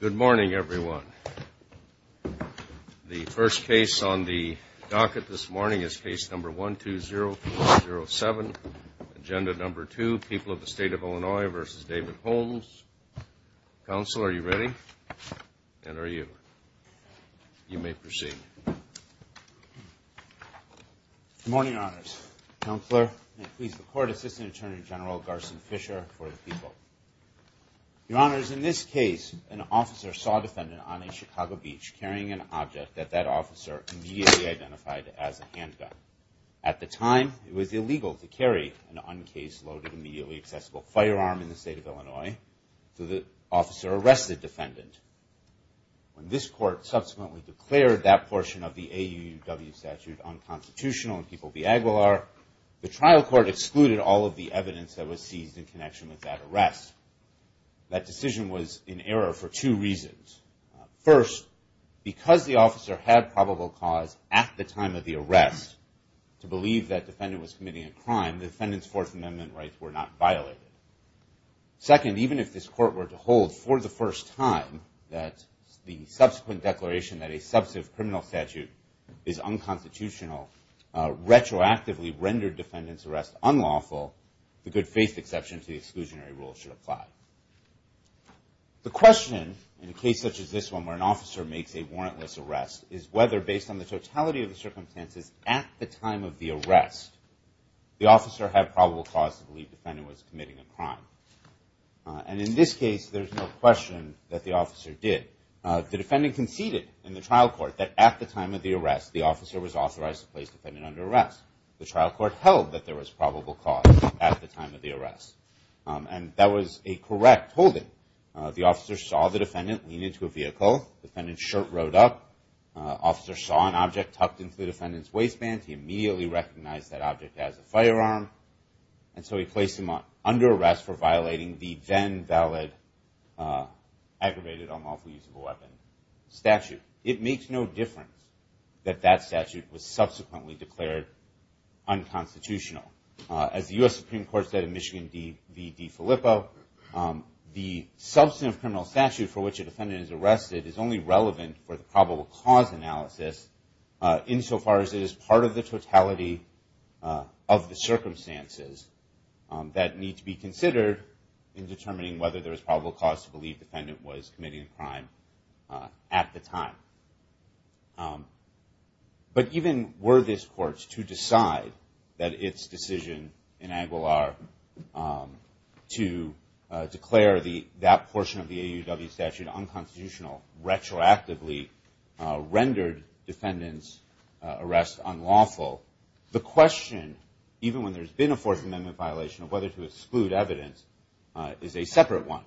Good morning, everyone. The first case on the docket this morning is case number 120507, agenda number 2, People of the State of Illinois v. David Holmes. Counsel, are you ready? And are you? You may proceed. Good morning, Your Honors. Counselor, and please record Assistant Attorney General Garson Fisher for the people. Your Honors, in this case, an officer saw a defendant on a Chicago beach carrying an object that that officer immediately identified as a handgun. At the time, it was illegal to carry an uncase-loaded, immediately accessible firearm in the State of Illinois, so the officer arrested the defendant. When this court subsequently declared that portion of the AUUW statute unconstitutional in People v. Aguilar, the trial court excluded all of the evidence that was seized in connection with that arrest. That decision was in error for two reasons. First, because the officer had probable cause at the time of the arrest to believe that defendant was committing a crime, the defendant's Fourth Amendment rights were not violated. Second, even if this court were to hold for the first time that the subsequent declaration that a substantive criminal statute is unconstitutional retroactively rendered defendant's arrest unlawful, the good faith exception to the exclusionary rule should apply. The question, in a case such as this one where an officer makes a warrantless arrest, is whether, based on the totality of the circumstances at the time of the arrest, the officer had probable cause to believe defendant was committing a crime, and in this case, there's no question that the officer did. The defendant conceded in the trial court that at the time of the arrest, the officer was authorized to place defendant under arrest. The trial court held that there was probable cause at the time of the arrest, and that was a correct holding. The officer saw the defendant lean into a vehicle, defendant's shirt rode up, officer saw an object tucked into the defendant's waistband, he immediately recognized that object as a firearm, and so he placed him under arrest for violating the then valid aggravated unlawful use of a weapon statute. It makes no difference that that statute was subsequently declared unconstitutional. As the U.S. Supreme Court said in Michigan v. DeFilippo, the substantive criminal statute for which a defendant is arrested is only relevant for the probable cause analysis insofar as it is part of the totality of the circumstances that need to be considered in determining whether there was probable cause to believe defendant was committing a crime at the time. But even were this court to decide that its decision in Aguilar to declare that portion of the AUW statute unconstitutional retroactively rendered defendant's arrest unlawful, the question, even when there's been a Fourth Amendment violation, of whether to exclude evidence is a separate one.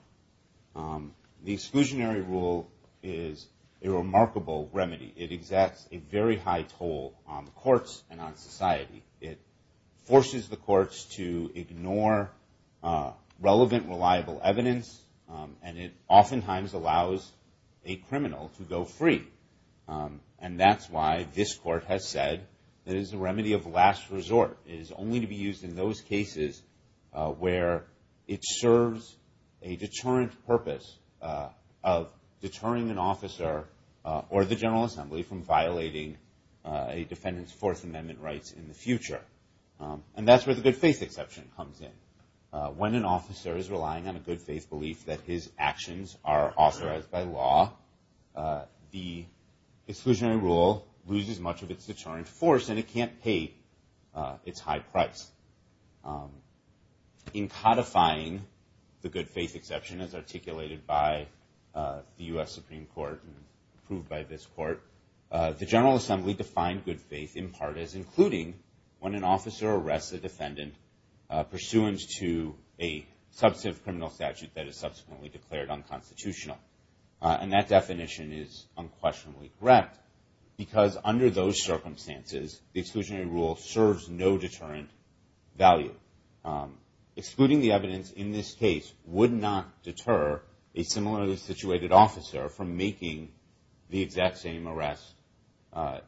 The exclusionary rule is a remarkable remedy. It exacts a very high toll on the courts and on society. It forces the courts to ignore relevant, reliable evidence, and it oftentimes allows a criminal to go free. And that's why this court has said it is a remedy of last cases where it serves a deterrent purpose of deterring an officer or the General Assembly from violating a defendant's Fourth Amendment rights in the future. And that's where the good faith exception comes in. When an officer is relying on a good faith belief that his actions are authorized by law, the exclusionary rule loses much of its deterrent force, and it can't pay its high price. In codifying the good faith exception as articulated by the U.S. Supreme Court and approved by this court, the General Assembly defined good faith in part as including when an officer arrests a defendant pursuant to a substantive criminal statute that is subsequently declared unconstitutional. And that definition is unquestionably correct because under those circumstances, the exclusionary rule serves no deterrent value. Excluding the evidence in this case would not deter a similarly situated officer from making the exact same arrest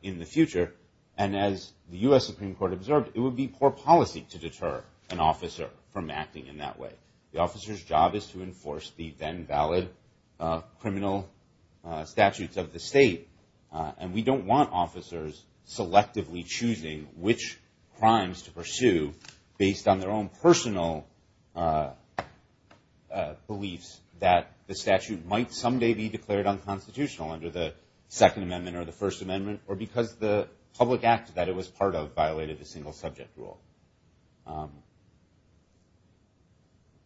in the future. And as the U.S. Supreme Court observed, it would be poor policy to deter an officer from acting in that way. The officer's then valid criminal statutes of the state, and we don't want officers selectively choosing which crimes to pursue based on their own personal beliefs that the statute might someday be declared unconstitutional under the Second Amendment or the First Amendment or because the public act that it was part of violated the single subject rule.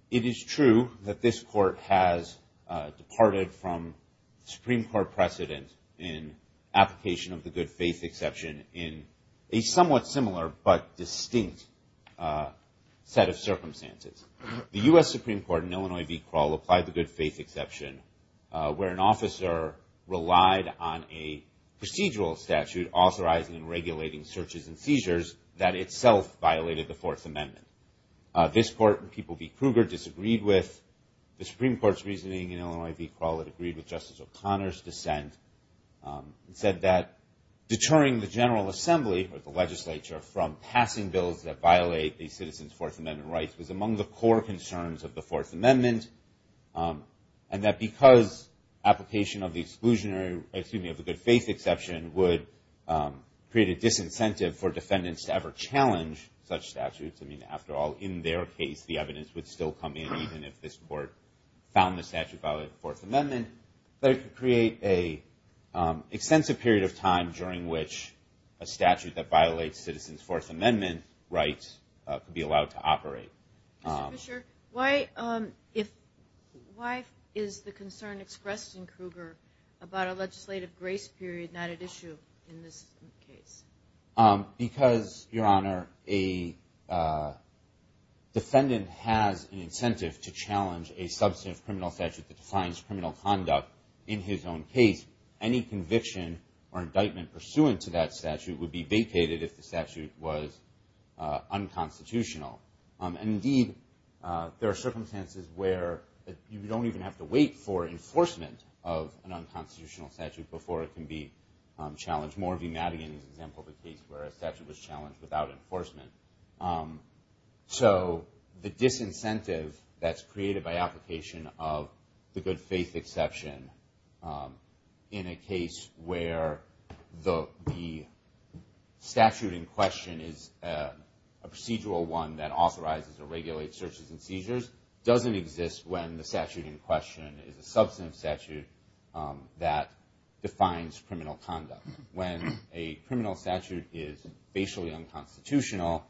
It is true that this court has departed from Supreme Court precedent in application of the good faith exception in a somewhat similar but distinct set of circumstances. The U.S. Supreme Court in Illinois v. Krull applied the good faith exception where an officer relied on a procedural statute authorizing and regulating searches and seizures that itself violated the Fourth Amendment. This court, in People v. Kruger, disagreed with the Supreme Court's reasoning in Illinois v. Krull. It agreed with Justice O'Connor's dissent. It said that deterring the General Assembly or the legislature from passing bills that violate the citizens' Fourth Amendment rights was among the core concerns of the Fourth Amendment and that because application of the exclusionary, excuse me, of the good faith exception would create a disincentive for defendants to ever challenge such statutes. I mean, after all, in their case, the evidence would still come in even if this court found the statute violated the Fourth Amendment. But it could create an extensive period of time during which a statute that violates citizens' Fourth Amendment rights could be allowed to operate. Mr. Fischer, why is the concern expressed in Kruger about a legislative grace period not at issue in this case? Because, Your Honor, a defendant has an incentive to challenge a substantive criminal statute that defines criminal conduct in his own case. Any conviction or indictment pursuant to that statute would be vacated if the statute was unconstitutional. And indeed, there are circumstances where you don't even have to wait for enforcement of an unconstitutional statute before it can be challenged. Moore v. Madigan is an example of a case where a statute was challenged without enforcement. So the disincentive that's created by application of the good faith exception in a case where the statute in question is a procedural one that authorizes or regulates searches and seizures doesn't exist when the statute in question is a substantive statute that defines criminal conduct. When a criminal statute is basically unconstitutional,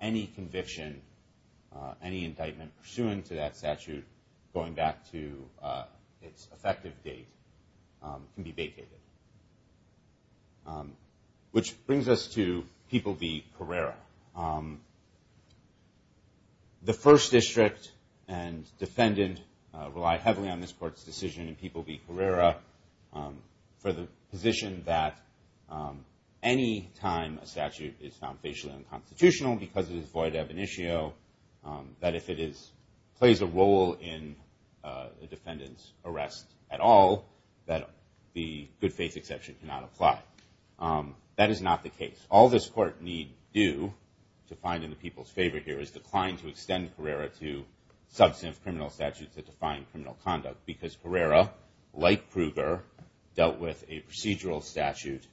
any conviction, any indictment pursuant to that statute, going back to its effective date, can be vacated. Which brings us to People v. Carrera. The First District and defendant rely heavily on this court's decision in People v. Carrera for the position that any time a statute is found facially unconstitutional because it is void ab initio, that if it plays a role in the defendant's arrest at all, that the good faith exception cannot apply. That is not the case. All this court need do to find in the people's favor here is decline to extend the statute to define criminal conduct. Because Carrera, like Kruger, dealt with a procedural statute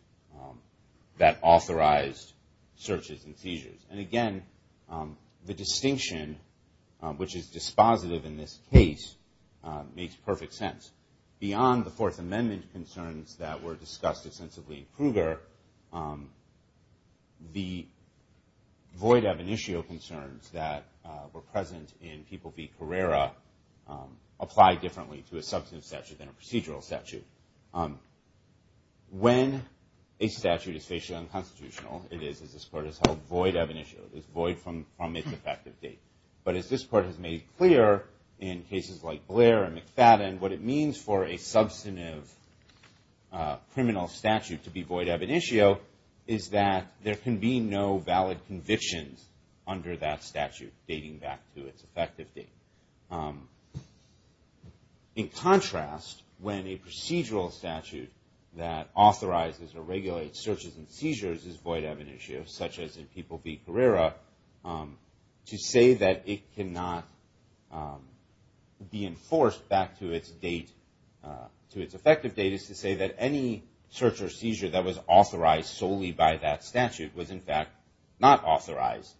that authorized searches and seizures. And again, the distinction, which is dispositive in this case, makes perfect sense. Beyond the Fourth Amendment concerns that were discussed extensively in Kruger, the void ab initio concerns that were present in People v. Carrera apply differently to a substantive statute than a procedural statute. When a statute is facially unconstitutional, it is, as this court has held, void ab initio. It is void from its effective date. But as this court has made clear in cases like Blair and McFadden, what it means for a substantive criminal statute to be void ab initio is that there can be no valid convictions under that statute dating back to its effective date. In contrast, when a procedural statute that authorizes or regulates searches and seizures is void ab initio, such as in People v. Carrera, to say that it cannot be enforced back to its date, to its effective date, is to say that any search or seizure that was authorized solely by that statute was, in fact, not authorized,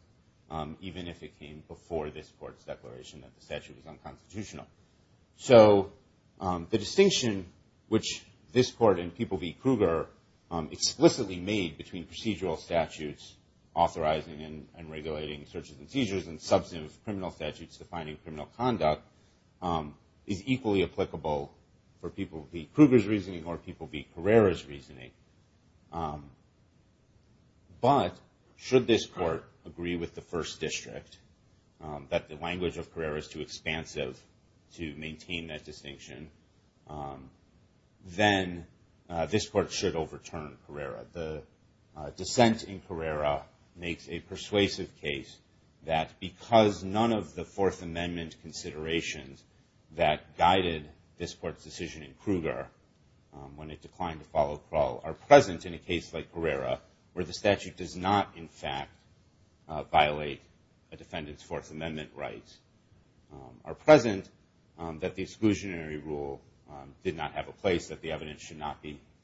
even if it came before this court's declaration that the statute was unconstitutional. So the distinction which this court and People v. Kruger explicitly made between procedural statutes authorizing and regulating searches and seizures and substantive criminal statutes defining criminal conduct is equally applicable for People v. Kruger's reasoning. But should this court agree with the First District that the language of Carrera is too expansive to maintain that distinction, then this court should overturn Carrera. The dissent in Carrera makes a persuasive case that because none of the Fourth Amendment considerations that guided this court's decision in Kruger when it declined to follow Krull are present in a case like Carrera, where the statute does not, in fact, violate a defendant's Fourth Amendment rights, are present that the exclusionary rule did not have a place that the evidence should not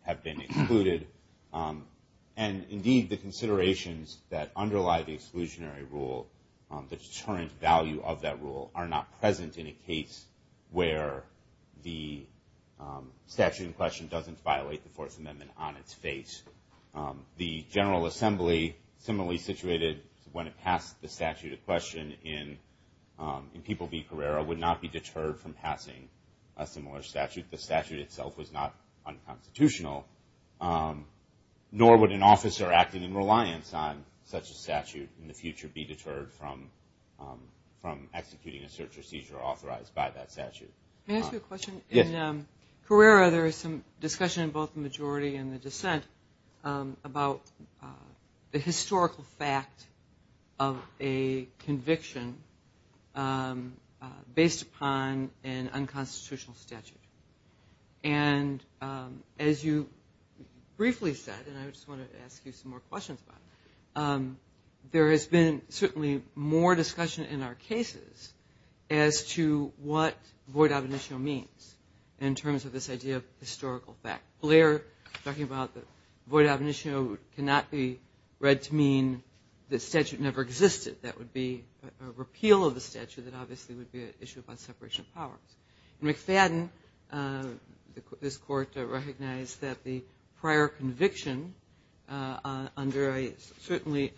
have been excluded. And indeed, the considerations that underlie the exclusionary rule, the deterrent value of that rule, are not present in a case where the statute in question doesn't violate the Fourth Amendment on its face. The General Assembly, similarly situated when it passed the statute of question in People v. Carrera, would not be deterred from passing a similar statute. The statute itself was not unconstitutional, nor would an officer acting in reliance on such a statute in the future be deterred from executing a search or seizure authorized by that statute. Can I ask you a question? In Carrera, there is some discussion in both the majority and the dissent about the historical fact of a conviction based upon an unconstitutional statute. And as you briefly said, and I just want to ask you some more questions about it, there has been certainly more discussion in our cases as to what void ab initio means in terms of this idea of historical fact. Blair talking about that void ab initio cannot be read to mean the statute never existed. That would be a repeal of the statute that obviously would be an issue about separation of powers. McFadden, this court recognized that the prior conviction under a certainly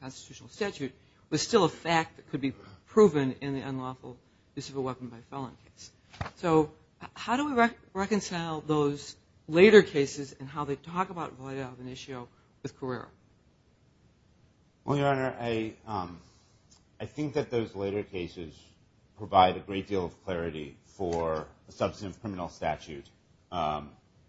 unconstitutional statute was still a fact that could be proven in the unlawful use of a weapon by felon case. So how do we reconcile those later cases and how they talk about void ab initio with Carrera? Well, Your Honor, I think that those later cases provide a great deal of clarity for a substantive criminal statute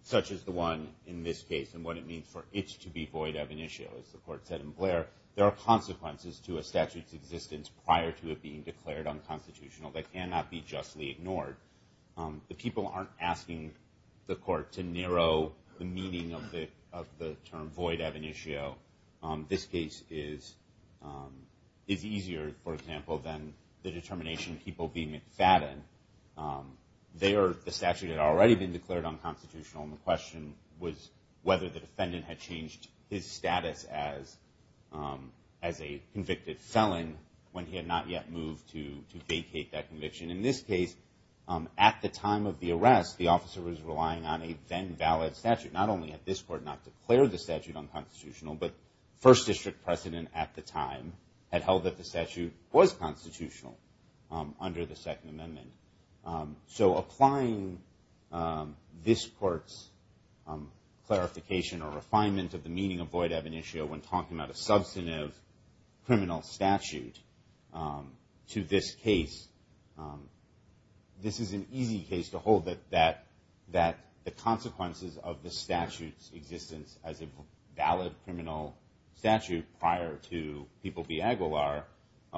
such as the one in this case and what it means for it to be void ab initio. As the court said in Blair, there are consequences to a statute's existence prior to it being declared unconstitutional that cannot be justly ignored. The people aren't asking the court to narrow the meaning of the term void ab initio. This case is easier, for example, than the determination of Hebel v. McFadden. The statute had already been declared unconstitutional and the question was whether the defendant had changed his status as a convicted felon when he had not yet moved to vacate that conviction. In this arrest, the officer was relying on a then valid statute. Not only had this court not declared the statute unconstitutional, but first district precedent at the time had held that the statute was constitutional under the Second Amendment. So applying this court's clarification or refinement of the meaning of void ab initio when talking about a substantive criminal statute to this case, this is an easy case to hold that the consequences of the statute's existence as a valid criminal statute prior to Hebel v. Aguilar,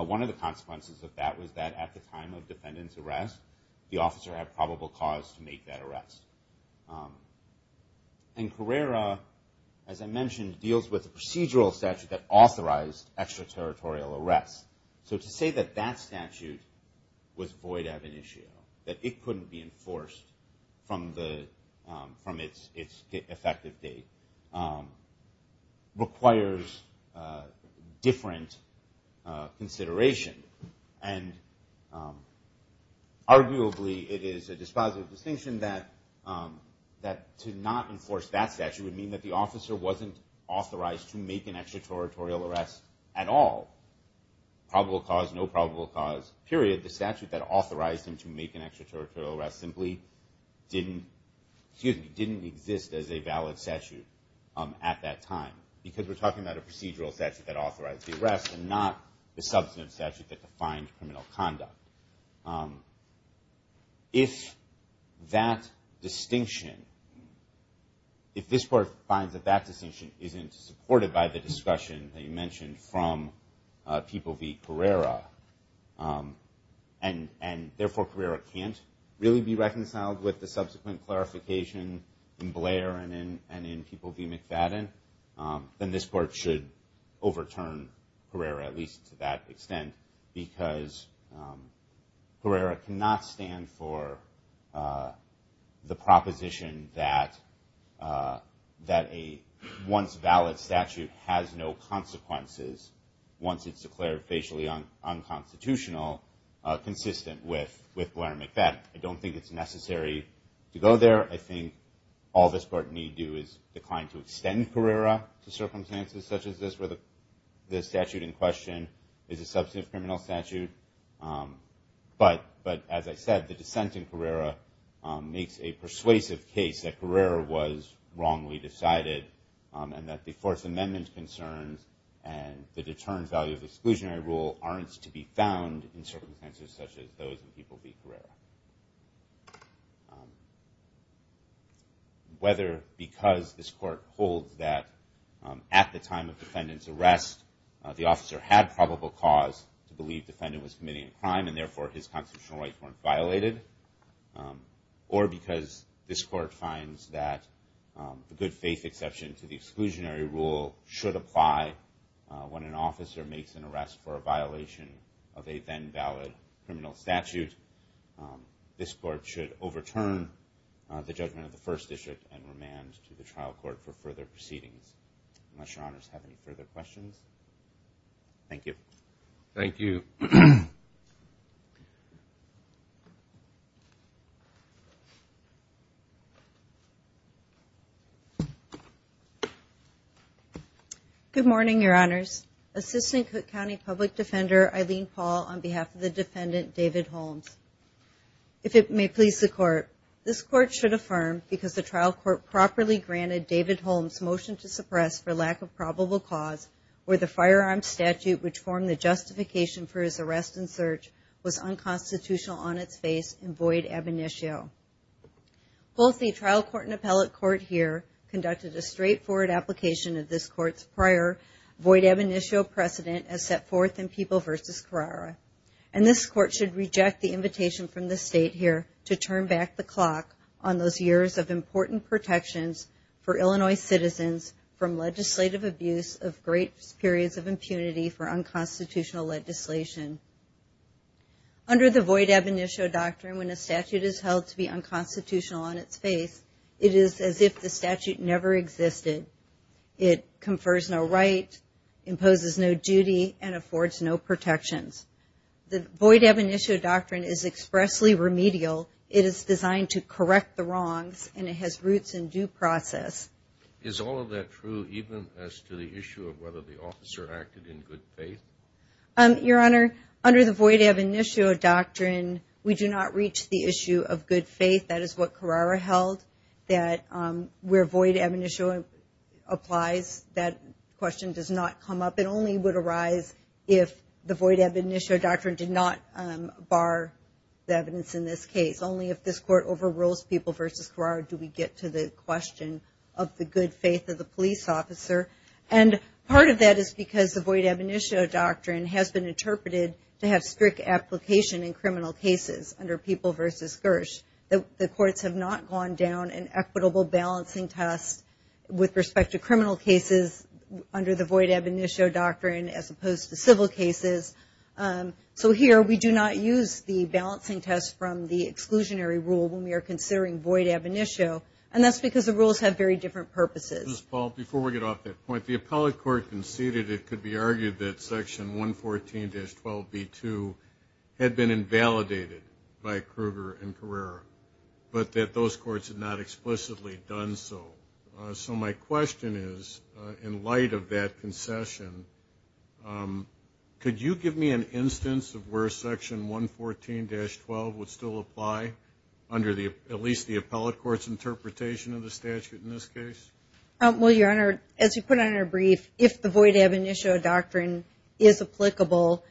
one of the consequences of that was that at the time of defendant's arrest, the officer had probable cause to make that arrest. And Carrera, as I mentioned, deals with a procedural statute that authorized extraterritorial arrests. So to say that that statute was void ab initio, that it couldn't be enforced from its effective date, requires different consideration. And arguably it is a dispositive distinction that to not enforce that statute would mean that the officer wasn't authorized to make an extraterritorial arrest at all. Probable cause, no probable cause, period. The statute that authorized him to make an extraterritorial arrest simply didn't exist as a valid statute at that time. Because we're talking about a procedural statute that authorized the arrest and not the substantive statute that defined criminal conduct. If that distinction, if this court finds that that distinction isn't supported by the discussion that you mentioned from People v. Carrera, and therefore Carrera can't really be reconciled with the subsequent clarification in Blair and in People v. Carrera cannot stand for the proposition that a once valid statute has no consequences once it's declared facially unconstitutional consistent with Blair and McBeth. I don't think it's necessary to go there. I think all this court need do is decline to extend Carrera to But as I said, the dissent in Carrera makes a persuasive case that Carrera was wrongly decided and that the Fourth Amendment concerns and the determined value of exclusionary rule aren't to be found in circumstances such as those in People v. Carrera. Whether because this court holds that at the time of defendant's arrest the officer had probable cause to commit a crime and therefore his constitutional rights weren't violated or because this court finds that the good faith exception to the exclusionary rule should apply when an officer makes an arrest for a violation of a then valid criminal statute. This court should overturn the judgment of the First District and remand to the trial court for further proceedings. Unless your honors have any further questions. Thank you. Good morning your honors. Assistant Cook County Public Defender Eileen Paul on behalf of the defendant David Holmes. If it may please the court, this court should affirm because the trial court properly granted David Holmes' motion to suppress for lack of probable cause where the firearm statute which formed the justification for his arrest and search was unconstitutional on its face in void ab initio. Both the trial court and appellate court here conducted a straightforward application of this court's prior void ab initio precedent as set forth in People v. Carrera. And this court should reject the invitation from the state here to turn back the clock on those years of important protections for Illinois citizens from legislative abuse of great periods of impunity for unconstitutional legislation. Under the void ab initio doctrine when a statute is held to be unconstitutional on its face it is as if the statute never existed. It confers no right, imposes no duty, and affords no protections. The void ab initio doctrine is expressly remedial. It is designed to correct the wrongs and it has roots in due process. Is all of that true even as to the issue of whether the officer acted in good faith? Your Honor, under the void ab initio doctrine we do not reach the issue of good faith. That is what Carrera held, that where void ab initio applies that question does not come up. It only would arise if the void ab initio doctrine did not bar the evidence in this case. Only if this court overrules People v. Carrera do we get to the question of the good faith of the police officer. And part of that is because the void ab initio doctrine has been interpreted to have strict application in criminal cases under People v. Gersh. The courts have not gone down an equitable balancing test with respect to criminal cases under the void ab initio doctrine as opposed to civil cases. So here we do not use the balancing test from the exclusionary rule when we are considering void ab initio, and that's because the rules have very different purposes. Justice Breyer, before we get off that point, the appellate court conceded it could be argued that section 114-12b2 had been invalidated by Kruger and Carrera, but that those courts had not explicitly done so. So my question is, in light of that concession, could you give me an instance of where section 114-12 would still apply under at least the appellate court's interpretation of the statute in this case? Well, Your Honor, as you put it in your brief, if the void ab initio doctrine is applicable,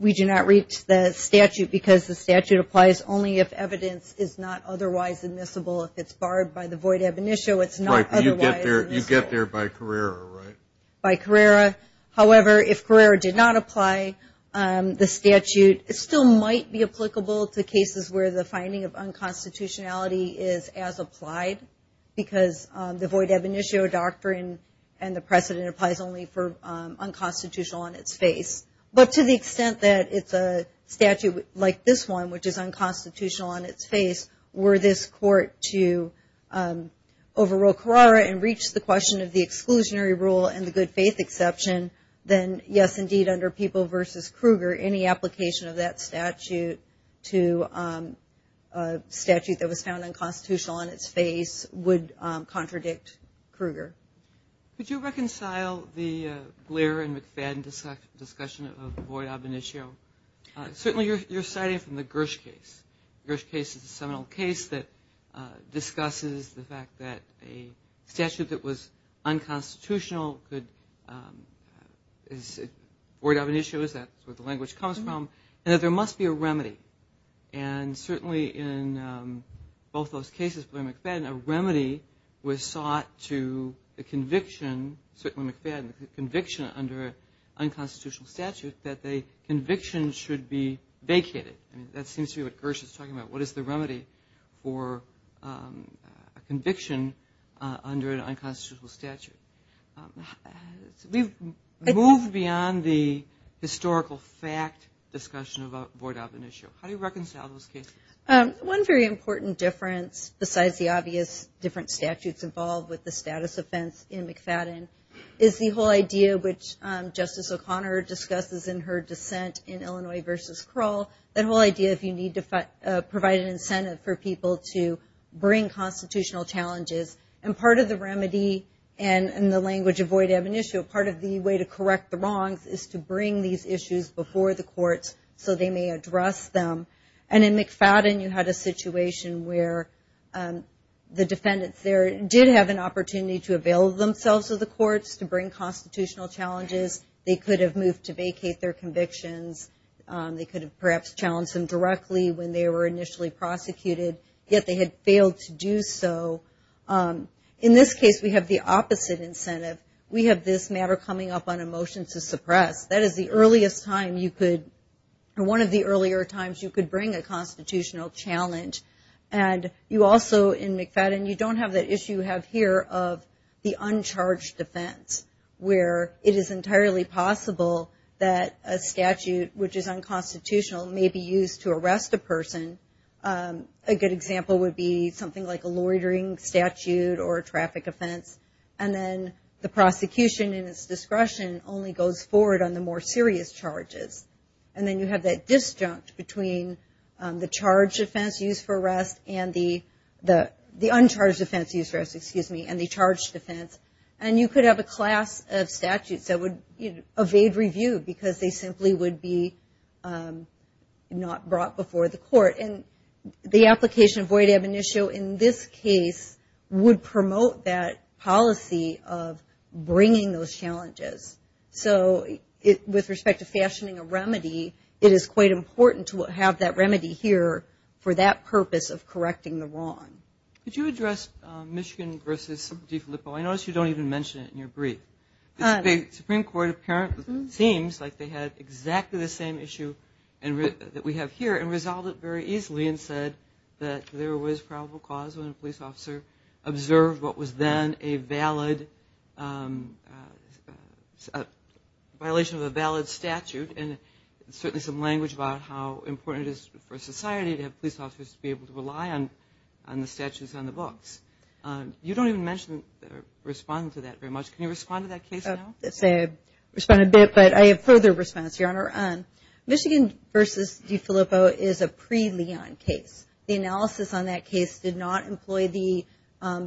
we do not reach the statute because the statute applies only if evidence is not otherwise admissible. If it's barred by the void ab initio, it's not otherwise admissible. Right, but you get there by Carrera, right? By Carrera. However, if Carrera did not apply, the statute still might be applicable to cases where the finding of unconstitutionality is as applied because the void ab initio doctrine and the precedent applies only for unconstitutional on its face. But to the extent that it's a statute like this one, which is unconstitutional on its face, were this court to overrule Carrera and reach the question of the exclusionary rule and the good faith exception, then yes, indeed, under People v. Kruger, any application of that statute to a statute that was found unconstitutional on its face would contradict Kruger. Could you reconcile the Blair and McFadden discussion of the void ab initio? Certainly you're citing from the Gersh case. The Gersh case is a seminal case that discusses the fact that a statute that was unconstitutional could, void ab initio is where the language comes from, and that there must be a remedy. And certainly in both those cases, Blair and McFadden, the conviction under an unconstitutional statute, that the conviction should be vacated. That seems to be what Gersh is talking about. What is the remedy for a conviction under an unconstitutional statute? We've moved beyond the historical fact discussion about void ab initio. How do you reconcile those cases? One very important difference besides the obvious different statutes involved with the status offense in McFadden is the whole idea which Justice O'Connor discusses in her dissent in Illinois v. Krull, that whole idea if you need to provide an incentive for people to bring constitutional challenges, and part of the remedy and the language of void ab initio, part of the way to correct the wrongs is to bring these issues before the courts so they may address them. And in McFadden, you had a situation where the defendants there did have an opportunity to avail themselves of the courts to bring constitutional challenges. They could have moved to vacate their convictions. They could have perhaps challenged them directly when they were initially prosecuted, yet they had failed to do so. In this case, we have the opposite incentive. We have this matter coming up on a motion to suppress. That is the earliest time you could, or one of the earlier times you could bring a constitutional challenge. And you also, in McFadden, you don't have that issue you have here of the uncharged offense where it is entirely possible that a statute which is unconstitutional may be used to arrest a person. A good example would be something like a loitering statute or a traffic offense, and then the prosecution in its discretion only goes forward on the more serious charges. And then you have that disjunct between the charged offense used for arrest and the uncharged offense used for arrest and the charged offense. And you could have a class of statutes that would evade review because they simply would be not brought before the court. And the application of void ab initio in this case would promote that policy of bringing those challenges. So with respect to fashioning a remedy, it is quite important to have that remedy here for that purpose of correcting the wrong. Could you address Michigan v. DeFilippo? I notice you don't even mention it in your brief. The Supreme Court apparently seems like they had exactly the same issue that we have here and resolved it very easily and said that there was probable cause when a police officer observed what was then a violation of a valid statute. And certainly some language about how important it is for society to have police officers to be able to rely on the statutes on the books. You don't even mention or respond to that very much. Can you respond to that case now? I'll respond a bit, but I have further response, Your Honor. Michigan v. DeFilippo is a pre-Leon case. The analysis on that case did not employ the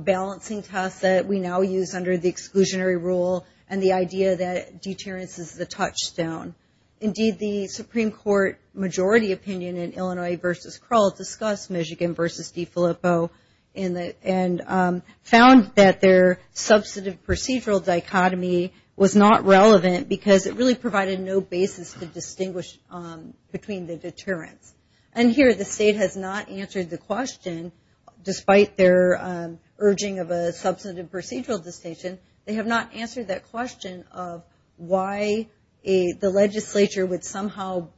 balancing test that we now use under the exclusionary rule and the idea that deterrence is the touchstone. Indeed, the Supreme Court majority opinion in Illinois v. Krull discussed Michigan v. DeFilippo and found that their substantive procedural dichotomy was not relevant because it really provided no basis to distinguish between the deterrence. And here the state has not answered the question despite their urging of a substantive procedural distinction. They have not answered that question of why the legislature would somehow,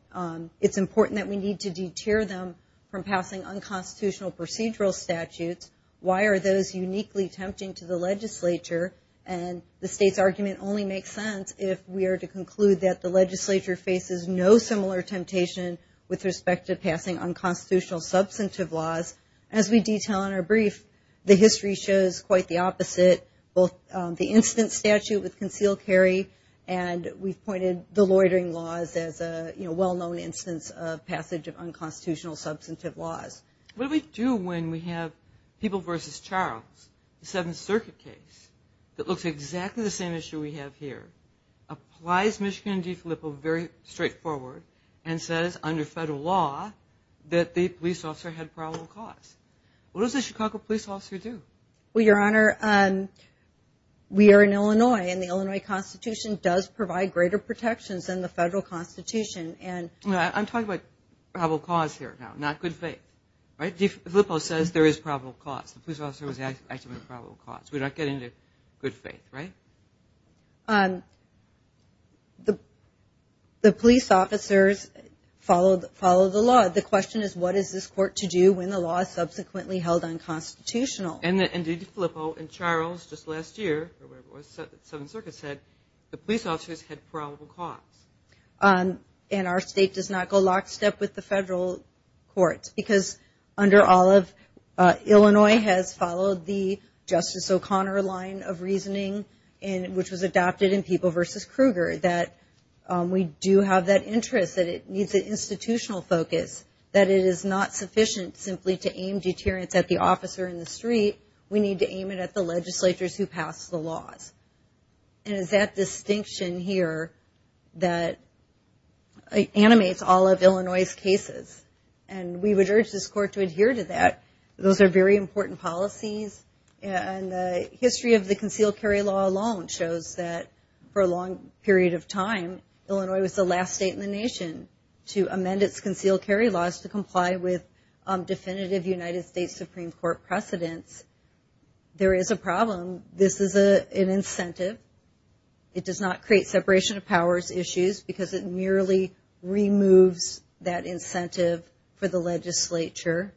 it's important that we need to deter them from passing unconstitutional procedural statutes. Why are those uniquely tempting to the legislature? And the state's argument only makes sense if we are to conclude that the legislature faces no similar temptation with respect to passing unconstitutional substantive laws. As we detail in our brief, the history shows quite the opposite. Both the instance statute with concealed carry and we've pointed the loitering laws as a well-known instance of passage of unconstitutional substantive laws. What do we do when we have people v. Charles, the Seventh Circuit case, that looks exactly the same issue we have here, applies Michigan v. DeFilippo very straightforward and says under federal law that the police officer had probable cause? What does a Chicago police officer do? Well, Your Honor, we are in Illinois and the Illinois Constitution does provide greater protections than the federal Constitution. I'm talking about probable cause here, not good faith. DeFilippo says there is probable cause. The police officer was following the law. The question is what is this court to do when the law is subsequently held unconstitutional? And DeFilippo and Charles just last year said the police officers had probable cause. And our state does not go lockstep with the federal courts because under all of Illinois has followed the Justice O'Connor line of reasoning, which was adopted in People v. Kruger, that we do have that interest, that it needs an institutional focus, that it is not sufficient simply to aim deterrence at the officer in the street. We need to aim it at the legislatures who pass the laws. And it's that distinction here that animates all of Illinois' cases. And we would urge this court to adhere to that. Those are very important policies. And the history of the concealed carry law alone shows that for a long period of time, Illinois was the last state in the nation to amend its concealed carry laws to comply with definitive United States Supreme Court precedents. There is a problem. This is an incentive. It does not create separation of powers issues because it merely removes that incentive for the legislature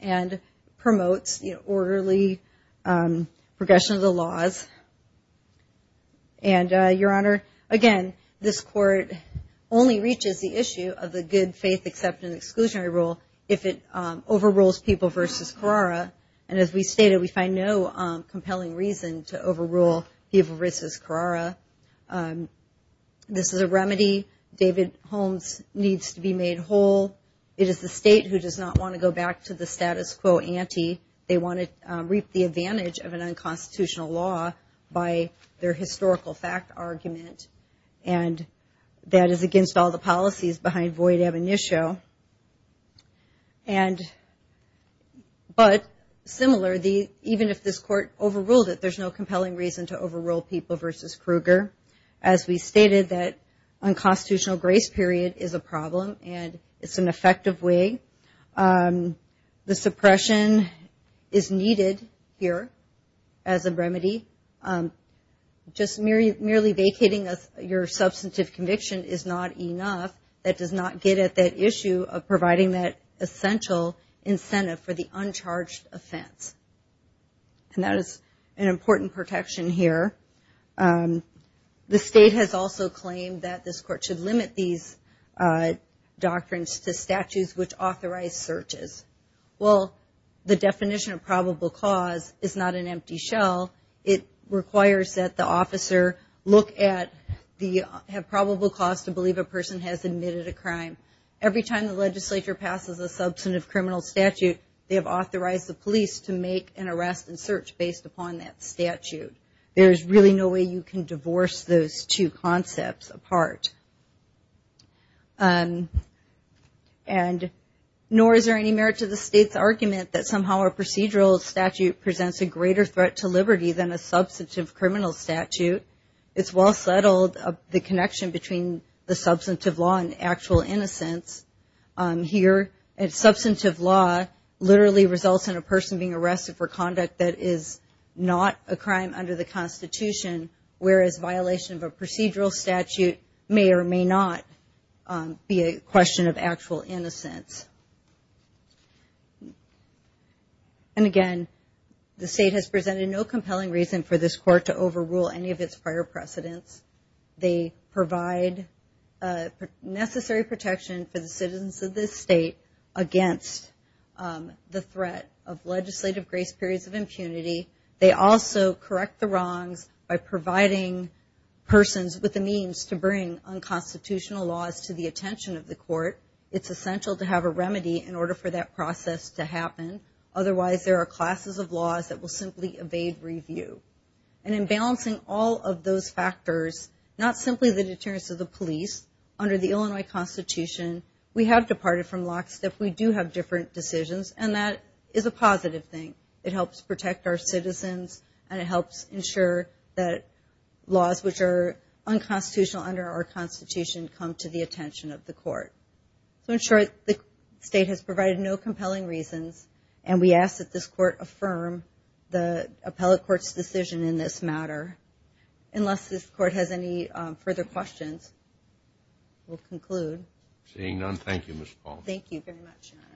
and promotes the orderly progression of the laws. And, Your Honor, again, this court only reaches the issue of the good faith acceptance exclusionary rule if it overrules People v. Carrara. And as we stated, we find no compelling reason to overrule People v. Carrara. This is a remedy. David Holmes needs to be made whole. It is the state who does not want to go back to the status quo ante. They want to reap the advantage of an unconstitutional law by their historical fact argument. And that is against all the policies behind void ab initio. But, similarly, even if this court overruled it, there is no compelling reason to overrule People v. Kruger. As we stated, that unconstitutional grace period is a problem and it is an effective way. The suppression is needed here as a remedy. Just merely vacating your substantive conviction is not enough. That does not get at that issue of providing that essential incentive for the uncharged offense. And that is an important protection here. The state has also claimed that this court should limit these doctrines to statutes which authorize searches. Well, the definition of probable cause is not an empty shell. It requires that the officer look at the probable cause to believe a person has admitted a crime. Every time the legislature passes a substantive criminal statute, they have authorized the police to make an arrest and search based upon that statute. There is really no way you can divorce those two concepts apart. And nor is there any merit to the state's argument that somehow a procedural statute presents a greater threat to liberty than a substantive criminal statute. It's well settled the connection between the substantive law and actual innocence. Here, substantive law literally results in a person being arrested for conduct that is not a crime under the Constitution, whereas violation of a procedural statute may or may not be a question of actual innocence. And again, the state has presented no compelling reason for this court to overrule any of its prior precedents. They provide necessary protection for the citizens of this state against the threat of legislative grace periods of impunity. They also correct the wrongs by providing persons with the means to bring unconstitutional laws to the attention of the court. It's essential to have a remedy in order for that process to happen. Otherwise, there are classes of laws that will simply evade review. And in balancing all of those factors, not simply the deterrence of the police, under the Illinois Constitution, we have departed from lockstep. We do have different decisions, and that is a positive thing. It helps protect our citizens, and it helps ensure that laws which are unconstitutional under our Constitution come to the attention of the court. So in short, the state has provided no compelling reasons, and we ask that this court affirm the appellate court's decision in this matter. Unless this court has any further questions, we'll conclude. Seeing none, thank you, Ms. Paul. Thank you very much, Your Honor.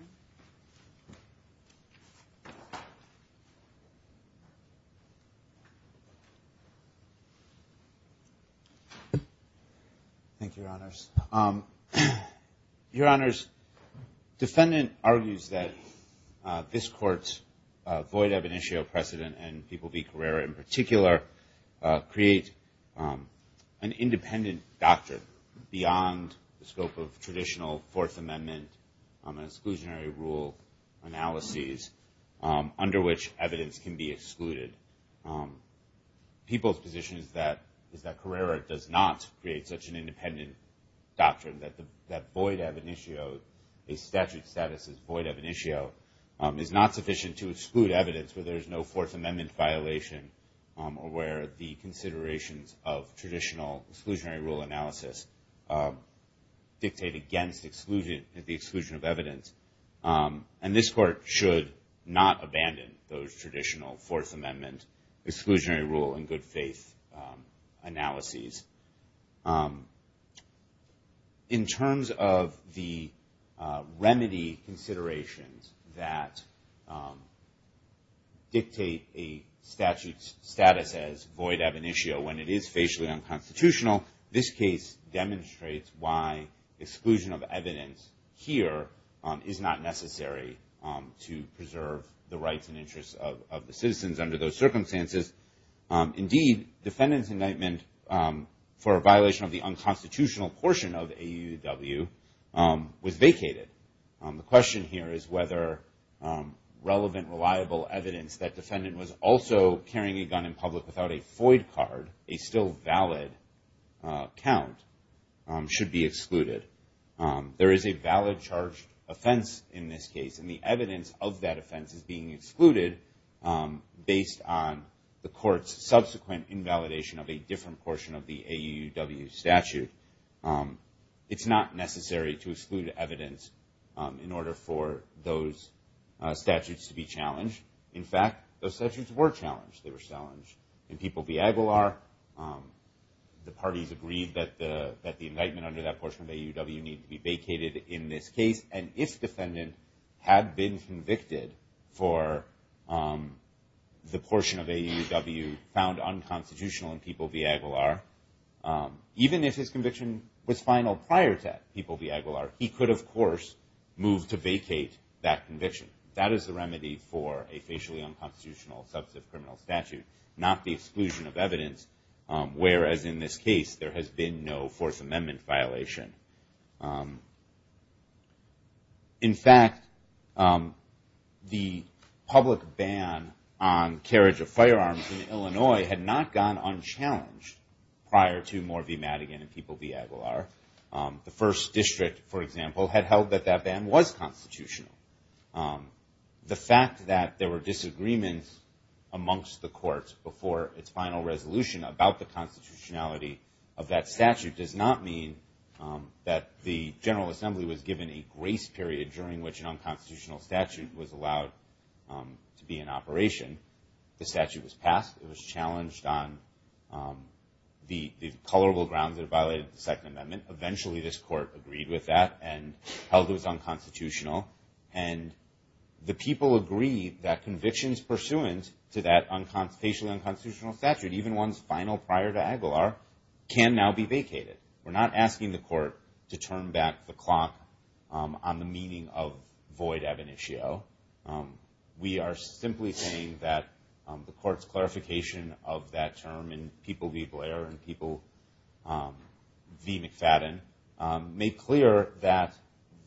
Thank you, Your Honors. Your Honors, defendant argues that this court's void of initial precedent, and People v. Carrera in particular, create an independent doctrine beyond the scope of traditional Fourth Amendment and exclusionary rule analyses under which evidence can be excluded. People's position is that Carrera does not create such an independent doctrine, that a statute's status as void of an issue is not sufficient to exclude evidence where there is no Fourth Amendment violation or where the considerations of traditional exclusionary rule analysis dictate against the exclusion of evidence. And this court should not abandon those traditional Fourth Amendment, exclusionary rule, and good faith analyses. In terms of the remedy considerations that dictate a statute's status as void of an issue when it is facially unconstitutional, this case demonstrates why exclusion of evidence here is not necessary to preserve the rights and interests of the citizens under those circumstances. Indeed, defendant's indictment for a violation of the unconstitutional portion of AUW was vacated. The question here is whether relevant, reliable evidence that defendant was also carrying a gun in public without a FOID card, a still valid count, should be excluded. There is a valid charged offense in this case, and the evidence of that offense is being excluded based on the court's subsequent invalidation of a different portion of the AUW statute. It's not necessary to exclude evidence in order for those statutes to be challenged. In fact, those statutes were challenged. They were challenged in People v. Aguilar. The parties agreed that the indictment under that portion of AUW needed to be vacated in this case. And if defendant had been convicted for the portion of AUW found unconstitutional in People v. Aguilar, even if his conviction was final prior to People v. Aguilar, he could, of course, move to vacate that conviction. That is the remedy for a facially unconstitutional substantive criminal statute, not the exclusion of evidence, whereas in this case there has been no Fourth Amendment violation. In fact, the public ban on carriage of firearms in Illinois had not gone unchallenged prior to Moore v. Madigan and People v. Aguilar. The First District, for example, had held that that ban was constitutional. The fact that there were disagreements amongst the courts before its final resolution about the constitutionality of that statute does not mean that the General Assembly was given a grace period during which an unconstitutional statute was allowed to be in operation. The statute was passed. It was challenged on the colorable grounds that it violated the Second Amendment. Eventually this court agreed with that and held it was unconstitutional. And the people agreed that convictions pursuant to that facially unconstitutional statute, even ones final prior to Aguilar, can now be vacated. We're not asking the court to turn back the clock on the meaning of void ab initio. We are simply saying that the court's clarification of that term in People v. Blair and People v. McFadden made clear that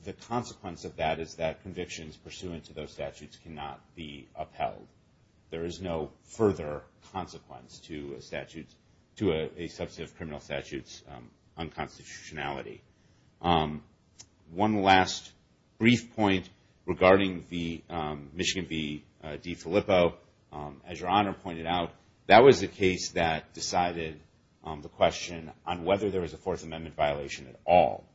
the consequence of that is that convictions pursuant to those statutes cannot be upheld. There is no further consequence to a substantive criminal statute's unconstitutionality. One last brief point regarding the Michigan v. DeFilippo. As Your Honor pointed out, that was the case that decided the question on whether there was a Fourth Amendment violation at all.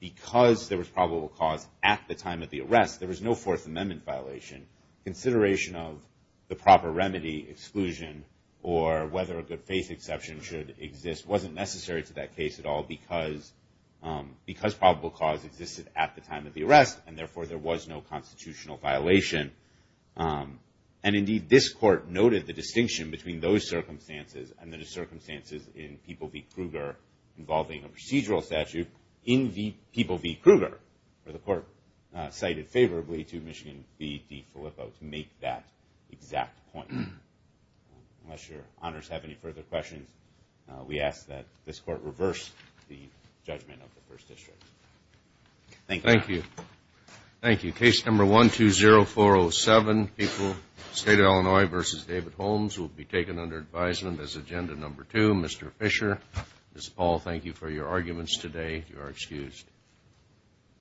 Because there was probable cause at the time of the arrest, there was no Fourth Amendment violation. Consideration of the proper remedy exclusion or whether a good faith exception should exist wasn't necessary to that case at all because probable cause existed at the time of the arrest and therefore there was no constitutional violation. And indeed, this court noted the distinction between those circumstances and the circumstances in People v. Kruger involving a procedural statute in the People v. Kruger. The court cited favorably to Michigan v. DeFilippo to make that exact point. Unless Your Honors have any further questions, we ask that this court reverse the judgment of the First District. Thank you. Thank you. Case number 120407, People v. State of Illinois v. David Holmes will be taken under advisement as agenda number two. Mr. Fisher, Ms. Paul, thank you for your arguments today. You are excused.